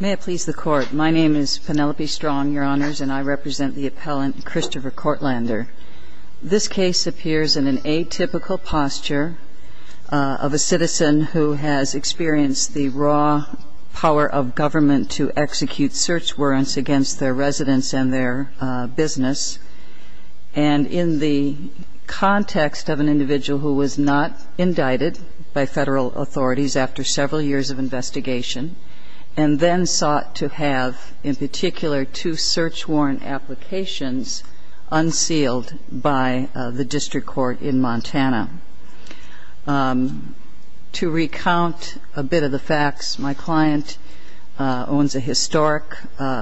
May it please the Court. My name is Penelope Strong, Your Honors, and I represent the appellant Christopher Kortlander. This case appears in an atypical posture of a citizen who has experienced the raw power of government to execute search warrants against their residence and their business. And in the context of an individual who was not indicted by federal authorities after several years of investigation, and then sought to have in particular two search warrant applications unsealed by the District Court in Montana. To recount a bit of the facts, my client owns a historic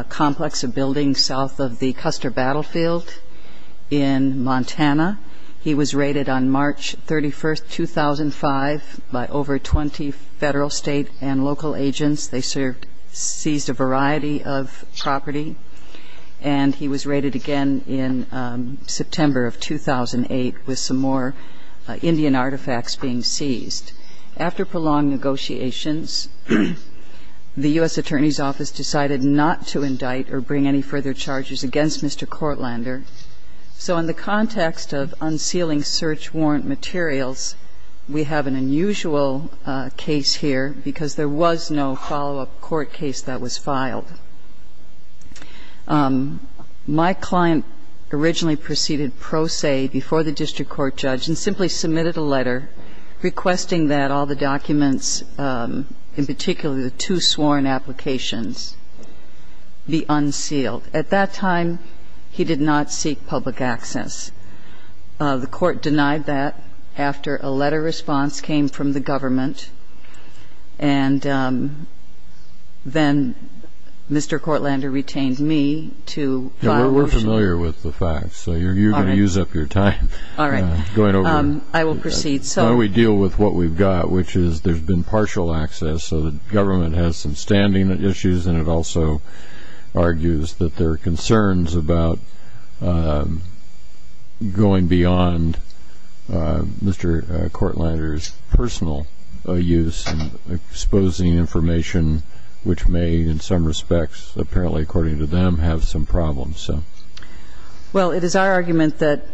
complex, a building south of the Custer Battlefield in Montana. He was raided on March 31, 2005 by over 20 federal, state, and local agents. They seized a variety of property. And he was raided again in September of 2008 with some more Indian artifacts being seized. After prolonged negotiations, the U.S. Attorney's not to indict or bring any further charges against Mr. Kortlander. So in the context of unsealing search warrant materials, we have an unusual case here because there was no follow-up court case that was filed. My client originally proceeded pro se before the District Court judge and simply submitted a letter requesting that all the documents, in particular the two sworn applications, be unsealed. At that time, he did not seek public access. The court denied that after a letter response came from the government. And then Mr. Kortlander retained me to file a... We're familiar with the facts, so you're going to use up your time going over... I will proceed. We deal with what we've got, which is there's been partial access. So the government has some standing issues, and it also argues that there are concerns about going beyond Mr. Kortlander's personal use and exposing information, which may, in some respects, apparently, according to them, have some problems. Well, it is our argument that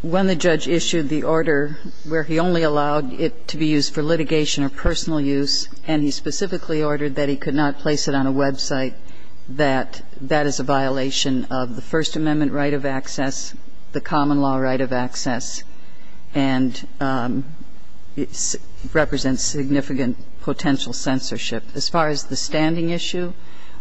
when the judge issued the order where he only allowed it to be used for litigation or personal use, and he specifically ordered that he could not place it on a website, that that is a violation of the First Amendment right of access, the common law right of access, and it represents significant potential censorship. As far as the standing issue,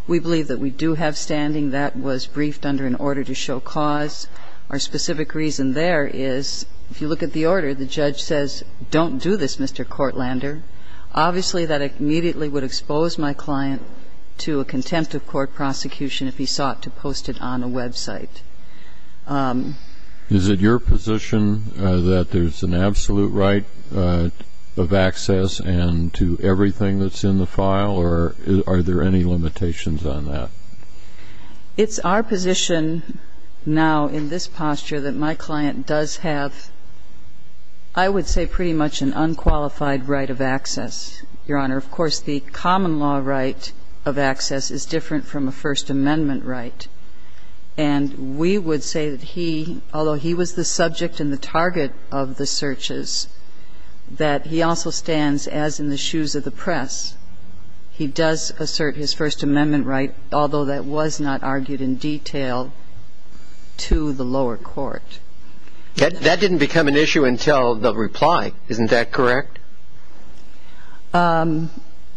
we believe that we do have standing. That was briefed under an order to show cause. Our specific reason there is, if you look at the order, the judge says, don't do this, Mr. Kortlander. Obviously, that immediately would expose my client to a contempt of court prosecution if he sought to post it on a website. Is it your position that there's an absolute right of access and to everything that's in the file, or are there any limitations on that? It's our position now in this posture that my client does have, I would say, pretty much an unqualified right of access, Your Honor. Of course, the common law right of access is different from a First Amendment right. And we would say that he, although he was the subject and the target of the searches, that he also stands, as in the shoes of the judge, he does assert his First Amendment right, although that was not argued in detail, to the lower court. That didn't become an issue until the reply. Isn't that correct?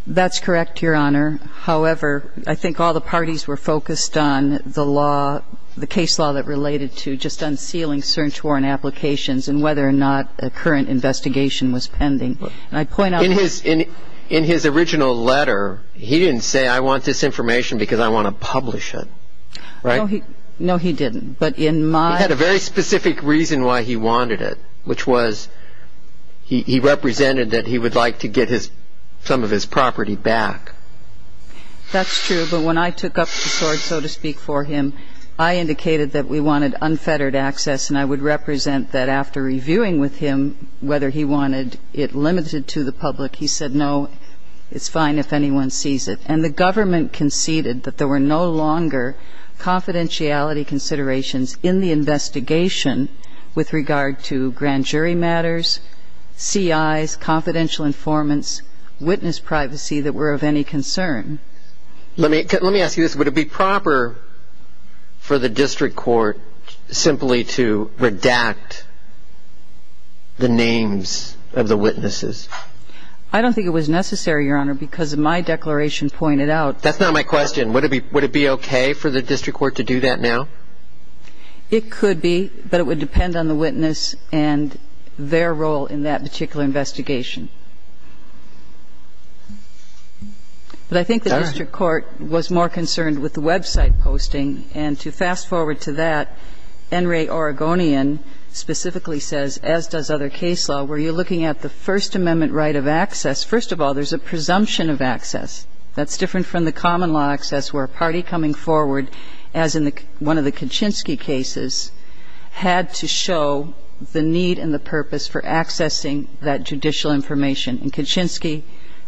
That's correct, Your Honor. However, I think all the parties were focused on the law, the case law that related to just unsealing cert warrant applications and whether or not a current investigation was pending. And I point out that in his original letter, he didn't say, I want this information because I want to publish it. No, he didn't. He had a very specific reason why he wanted it, which was he represented that he would like to get some of his property back. That's true. But when I took up the sword, so to speak, for him, I indicated that we wanted unfettered access. And I would represent that after reviewing with him whether he wanted it limited to the public. He said, no, it's fine if anyone sees it. And the government conceded that there were no longer confidentiality considerations in the investigation with regard to grand jury matters, CIs, confidential informants, witness privacy that were of any concern. Let me ask you this. Would it be proper for the district court simply to redact the names of the witnesses? I don't think it was necessary, Your Honor, because my declaration pointed out That's not my question. Would it be okay for the district court to do that now? It could be, but it would depend on the witness and their role in that particular investigation. But I think the district court was more concerned with the website posting. And to fast forward to that, NRA Oregonian specifically says, as does other case law, where you're looking at the First Amendment right of access, first of all, there's a presumption of access. That's different from the common law access where a party coming forward, as in one of the Kaczynski cases, had to show the need and the purpose for accessing that judicial information. In Kaczynski,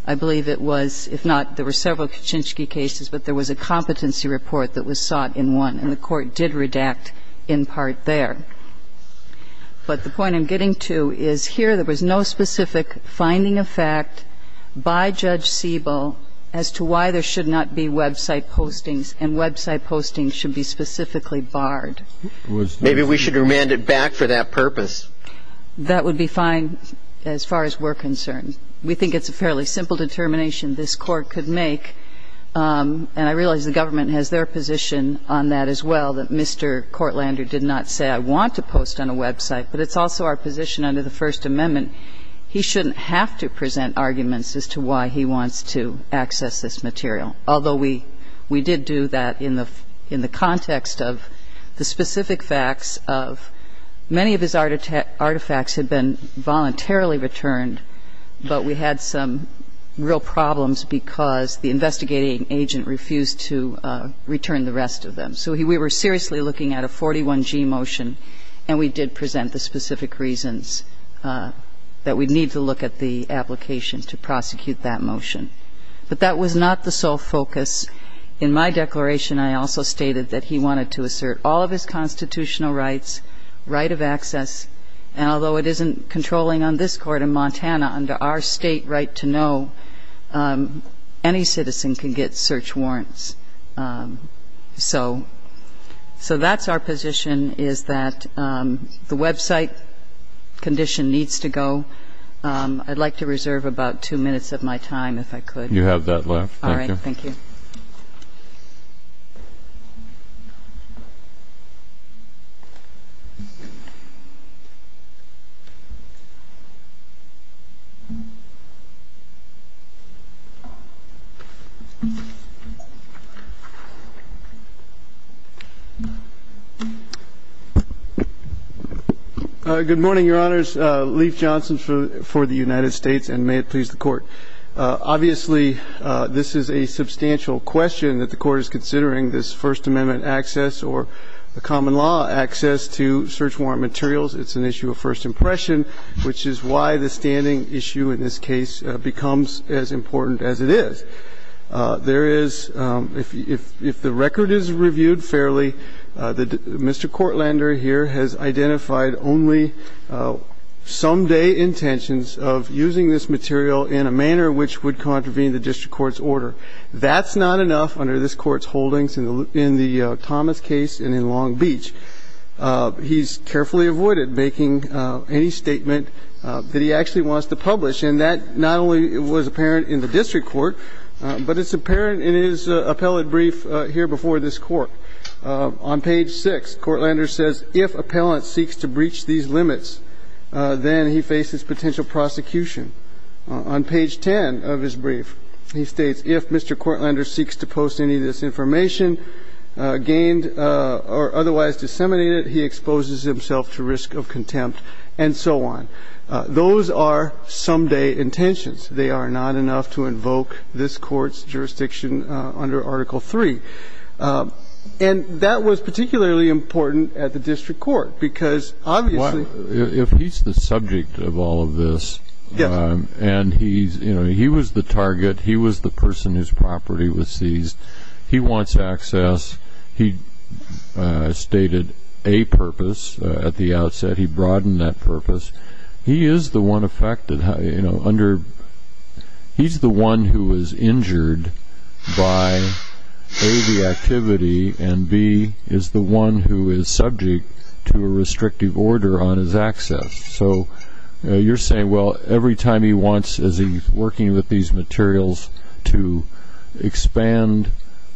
I believe it was, if not, there were several Kaczynski cases, but there was a competency report that was sought in one, and the court did redact in part there. But the point I'm getting to is here there was no specific finding of fact by Judge Siebel as to why there should not be website postings and website postings should be specifically barred. Maybe we should remand it back for that purpose. That would be fine as far as we're concerned. We think it's a fairly simple determination this Court could make, and I realize the government has their position on that as well, that Mr. Courtlander did not say, I want to post on a website, but it's also our position under the First Amendment, he shouldn't have to present arguments as to why he wants to access this material, although we did do that in the context of the specific facts of many of his artifacts had been voluntarily returned, but we had some real problems because the investigating agent refused to return the rest of them. So we were seriously looking at a 41G motion, and we did present the specific reasons that we'd need to look at the application to prosecute that motion. But that was not the sole focus. In my declaration, I also stated that he wanted to assert all of his constitutional rights, right of access, and although it isn't controlling on this Court in Montana, under our state right to know, any citizen can get search warrants. So that's our position, is that the website condition needs to go. I'd like to reserve about two minutes of my time, if I could. You have that left. Thank you. All right. Thank you. Good morning, Your Honors. Leif Johnson for the United States, and may it please the Court. Obviously, this is a substantial question that the Court is considering, this First Amendment access or the common law access to search warrant materials. It's an issue of first impression, which is why the standing issue in this case becomes as important as it is. There is, if the record is reviewed fairly, Mr. Courtlander here has identified only someday intentions of using this material in a manner which would contravene the district court's order. That's not enough under this Court's holdings in the Thomas case and in Long Beach. He's carefully avoided making any statement that he actually wants to publish, and that not only was apparent in the district court, but it's apparent in his appellate brief here before this Court. On page 6, Courtlander says, if appellant seeks to breach these limits, then he faces potential prosecution. On page 10 of his brief, he states, if Mr. Courtlander seeks to post any of this information gained or otherwise disseminated, he exposes himself to risk of contempt, and so on. Those are someday intentions. They are not enough to invoke this Court's jurisdiction under Article 3. And that was particularly important at the district court, because obviously if he's the subject of all of this, and he's, you know, he was the target, he was the person whose property was seized, he wants access, he stated a purpose at the outset, he broadened that purpose. He is the one affected, you know, under, he's the one who is injured by A, the activity, and B, is the one who is subject to a restrictive order on his property. So, you're saying, well, every time he wants, as he's working with these materials to expand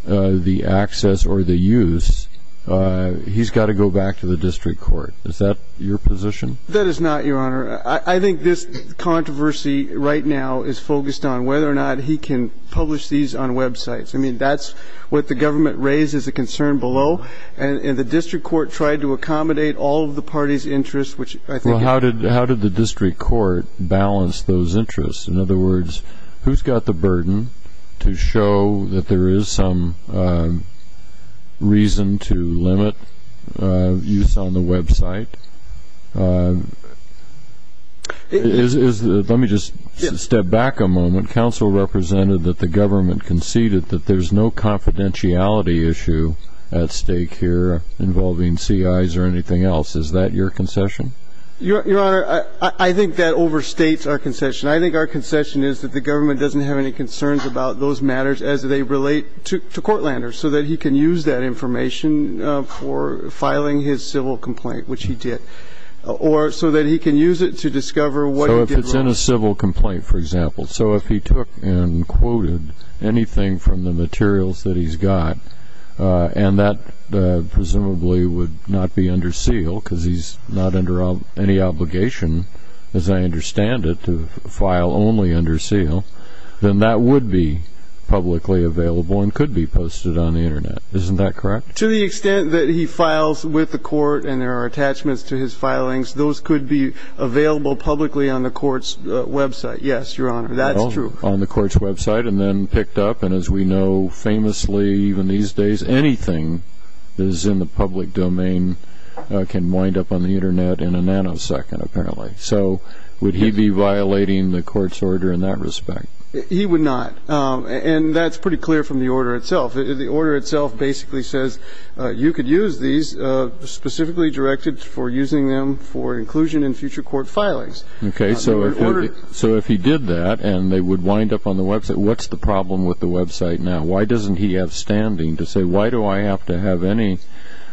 the access or the use, he's got to go back to the district court. Is that your position? That is not, Your Honor. I think this controversy right now is focused on whether or not he can publish these on websites. I mean, that's what the government raised as a concern below, and the district court tried to accommodate all of the party's interests, which I think Well, how did the district court balance those interests? In other words, who's got the burden to show that there is some reason to limit use on the website? Let me just step back a moment. Counsel represented that the government conceded that there's no confidentiality issue at stake here involving CIs or anything else. Is that your concession? Your Honor, I think that overstates our concession. I think our concession is that the government doesn't have any concerns about those matters as they relate to Courtlander, so that he can use that information for filing his civil complaint, which he did, or so that he can use it to discover what he did wrong. So if it's in a civil complaint, for example, so if he took and quoted anything from the court, and that presumably would not be under seal, because he's not under any obligation, as I understand it, to file only under seal, then that would be publicly available and could be posted on the Internet. Isn't that correct? To the extent that he files with the court and there are attachments to his filings, those could be available publicly on the court's website. Yes, Your Honor, that's true. On the court's website and then picked up, and as we know famously even these days, anything that is in the public domain can wind up on the Internet in a nanosecond, apparently. So would he be violating the court's order in that respect? He would not. And that's pretty clear from the order itself. The order itself basically says you could use these specifically directed for using them for inclusion in future court filings. Okay, so if he did that and they would wind up on the website, what's the problem with the website now? Why doesn't he have standing to say, why do I have to have any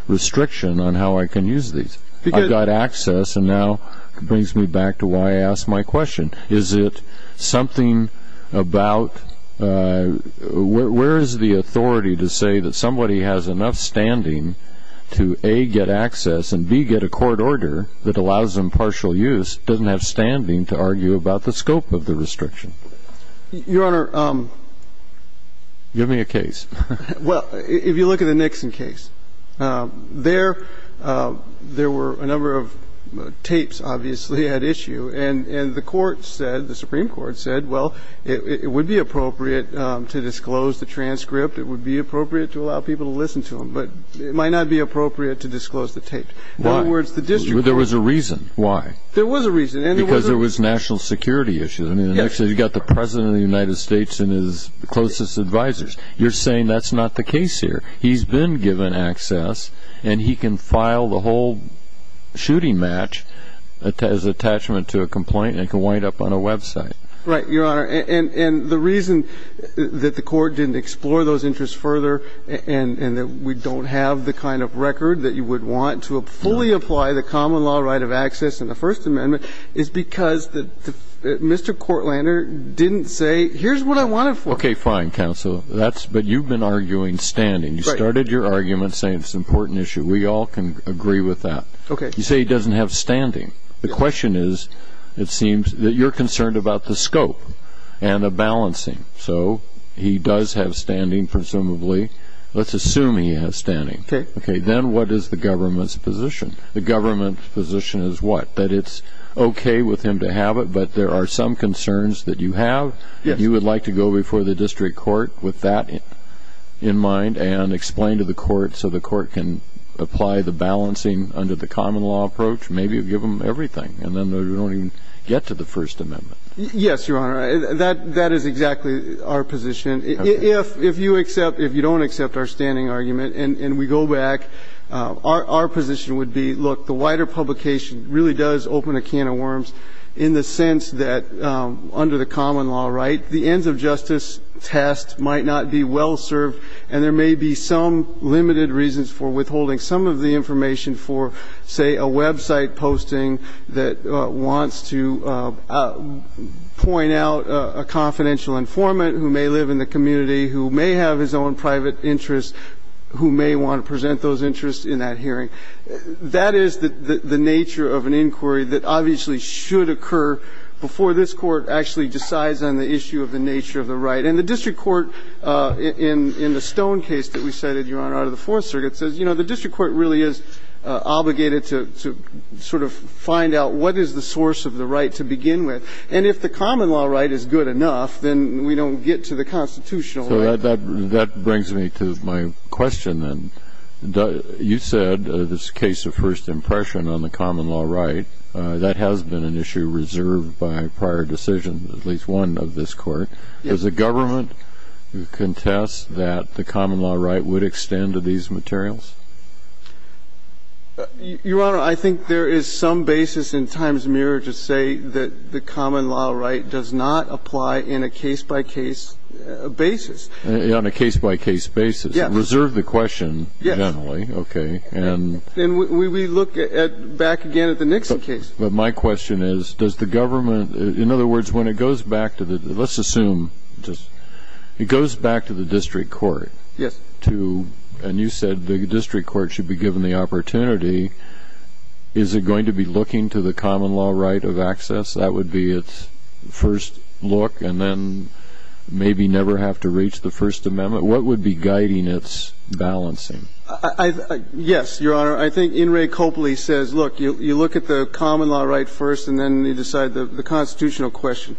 restriction on how I can use these? I've got access and now it brings me back to why I asked my question. Is it something about, where is the authority to say that somebody has enough standing to a, get access, and b, get a court order that allows impartial use, doesn't have standing to argue about the scope of the restriction? Your Honor, well, if you look at the Nixon case, there were a number of tapes obviously at issue, and the court said, the Supreme Court said, well, it would be appropriate to disclose the transcript. It would be appropriate to allow people to listen to them. But it might not be appropriate to disclose the tape. Why? In other words, the district court There was a reason. Why? There was a reason. Because there was national security issues. I mean, you've got the President of the United States and his closest advisers. You're saying that's not the case here. He's been given access and he can file the whole shooting match as attachment to a complaint and can wind up on a website. Right, Your Honor. And the reason that the court didn't explore those interests further and that we don't have the kind of record that you would want to fully apply the common law right of access in the First Amendment is because Mr. Courtlander didn't say, here's what I want it for. Okay, fine, counsel. But you've been arguing standing. You started your argument saying it's an important issue. We all can agree with that. Okay. You say he doesn't have standing. The question is, it seems, that you're concerned about the scope and the balancing. So he does have standing, presumably. Let's assume he has standing. Okay. Okay. Then what is the government's position? The government's position is what? That it's okay with him to have it, but there are some concerns that you have? Yes. You would like to go before the district court with that in mind and explain to the court so the court can apply the balancing under the common law approach? Maybe give them everything and then they don't even get to the First Amendment. Yes, Your Honor. That is exactly our position. If you accept, if you don't accept our standing argument and we go back, our position would be, look, the wider publication really does open a can of worms in the sense that under the common law right, the ends of justice test might not be well served and there may be some limited reasons for withholding some of the information for, say, a website posting that wants to point out a confidential informant who may live in the community, who may have his own private interests, who may want to present those interests in that hearing. That is the nature of an inquiry that obviously should occur before this Court actually decides on the issue of the nature of the right. And the district court, in the Stone case that we cited, Your Honor, out of the Fourth Circuit says, you know, the district court really is obligated to sort of find out what is the source of the right to begin with. And if the common law right is good enough, then we don't get to the constitutional right. So that brings me to my question then. You said this case of first impression on the common law right, that has been an issue reserved by prior decisions, at least one of this Court. Does the government contest that the common law right would extend to these materials? Your Honor, I think there is some basis in Times-Mirror to say that the common law right does not apply in a case-by-case basis. On a case-by-case basis. Yes. Reserve the question generally. Yes. Okay. And we look back again at the Nixon case. But my question is, does the government — in other words, when it goes back to the — let's assume just — it goes back to the district court to — and you said the district court should be given the opportunity. Is it going to be looking to the common law right of access? That would be its first look, and then maybe never have to reach the First Amendment. What would be guiding its balancing? Yes, Your Honor. I think In re Coppoli says, look, you look at the common law right first, and then you decide the constitutional question.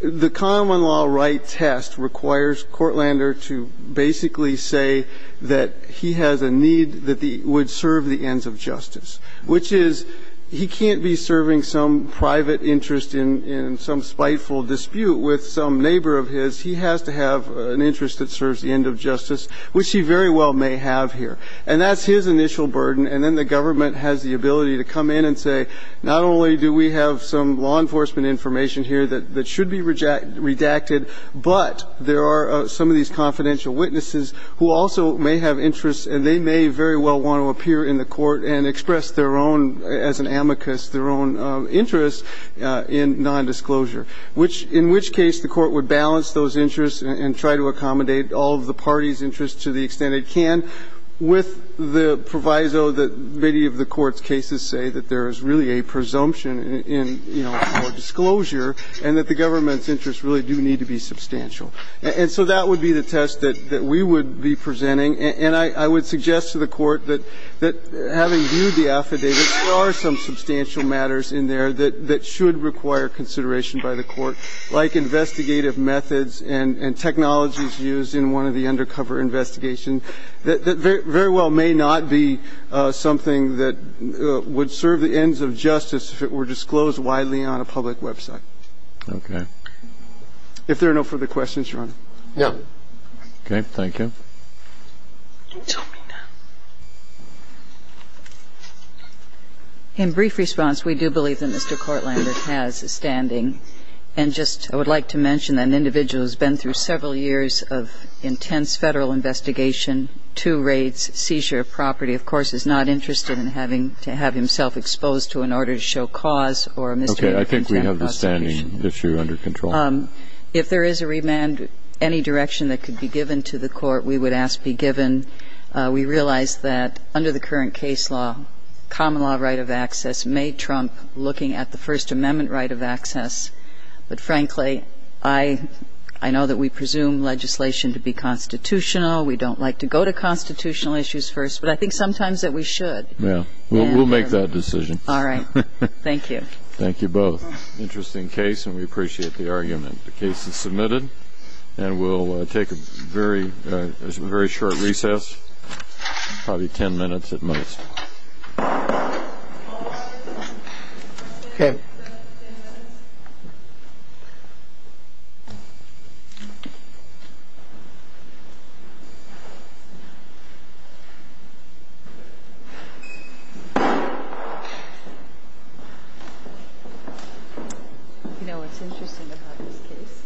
The common law right test requires Courtlander to basically say that he has a need that would serve the ends of justice, which is he can't be serving some private interest in some spiteful dispute with some neighbor of his. He has to have an interest that serves the end of justice, which he very well may have here. And that's his initial burden. And then the government has the ability to come in and say, not only do we have some law enforcement information here that should be redacted, but there are some of these confidential witnesses who also may have interests, and they may very well want to appear in the court and express their own — as an amicus, their own interest in nondisclosure, which — in which case the Court would balance those interests and try to accommodate all of the party's interests to the extent it can with the proviso that many of the Court's cases say, that there is really a presumption in, you know, our disclosure and that the government's interests really do need to be substantial. And so that would be the test that we would be presenting. And I would suggest to the Court that, having viewed the affidavits, there are some to the Court's consideration by the Court, like investigative methods and technologies used in one of the undercover investigations that very well may not be something that would serve the ends of justice if it were disclosed widely on a public website. If there are no further questions, Your Honor. No. Okay. Thank you. Ms. Omina. In brief response, we do believe that Mr. Courtlander has a standing. And just — I would like to mention that an individual who's been through several years of intense Federal investigation, two raids, seizure of property, of course, is not interested in having to have himself exposed to an order to show cause or a misdemeanor for contempt of prosecution. Okay. I think we have the standing issue under control. If there is a remand, any direction that could be given to the Court, we would ask be given. We realize that, under the current case law, common law right of access may trump looking at the First Amendment right of access, but frankly, I know that we presume legislation to be constitutional. We don't like to go to constitutional issues first, but I think sometimes that we should. Yeah. We'll make that decision. All right. Thank you. Thank you both. Interesting case, and we appreciate the argument. The case is submitted, and we'll take a very short recess, probably 10 minutes at most. Okay. You know what's interesting about this case?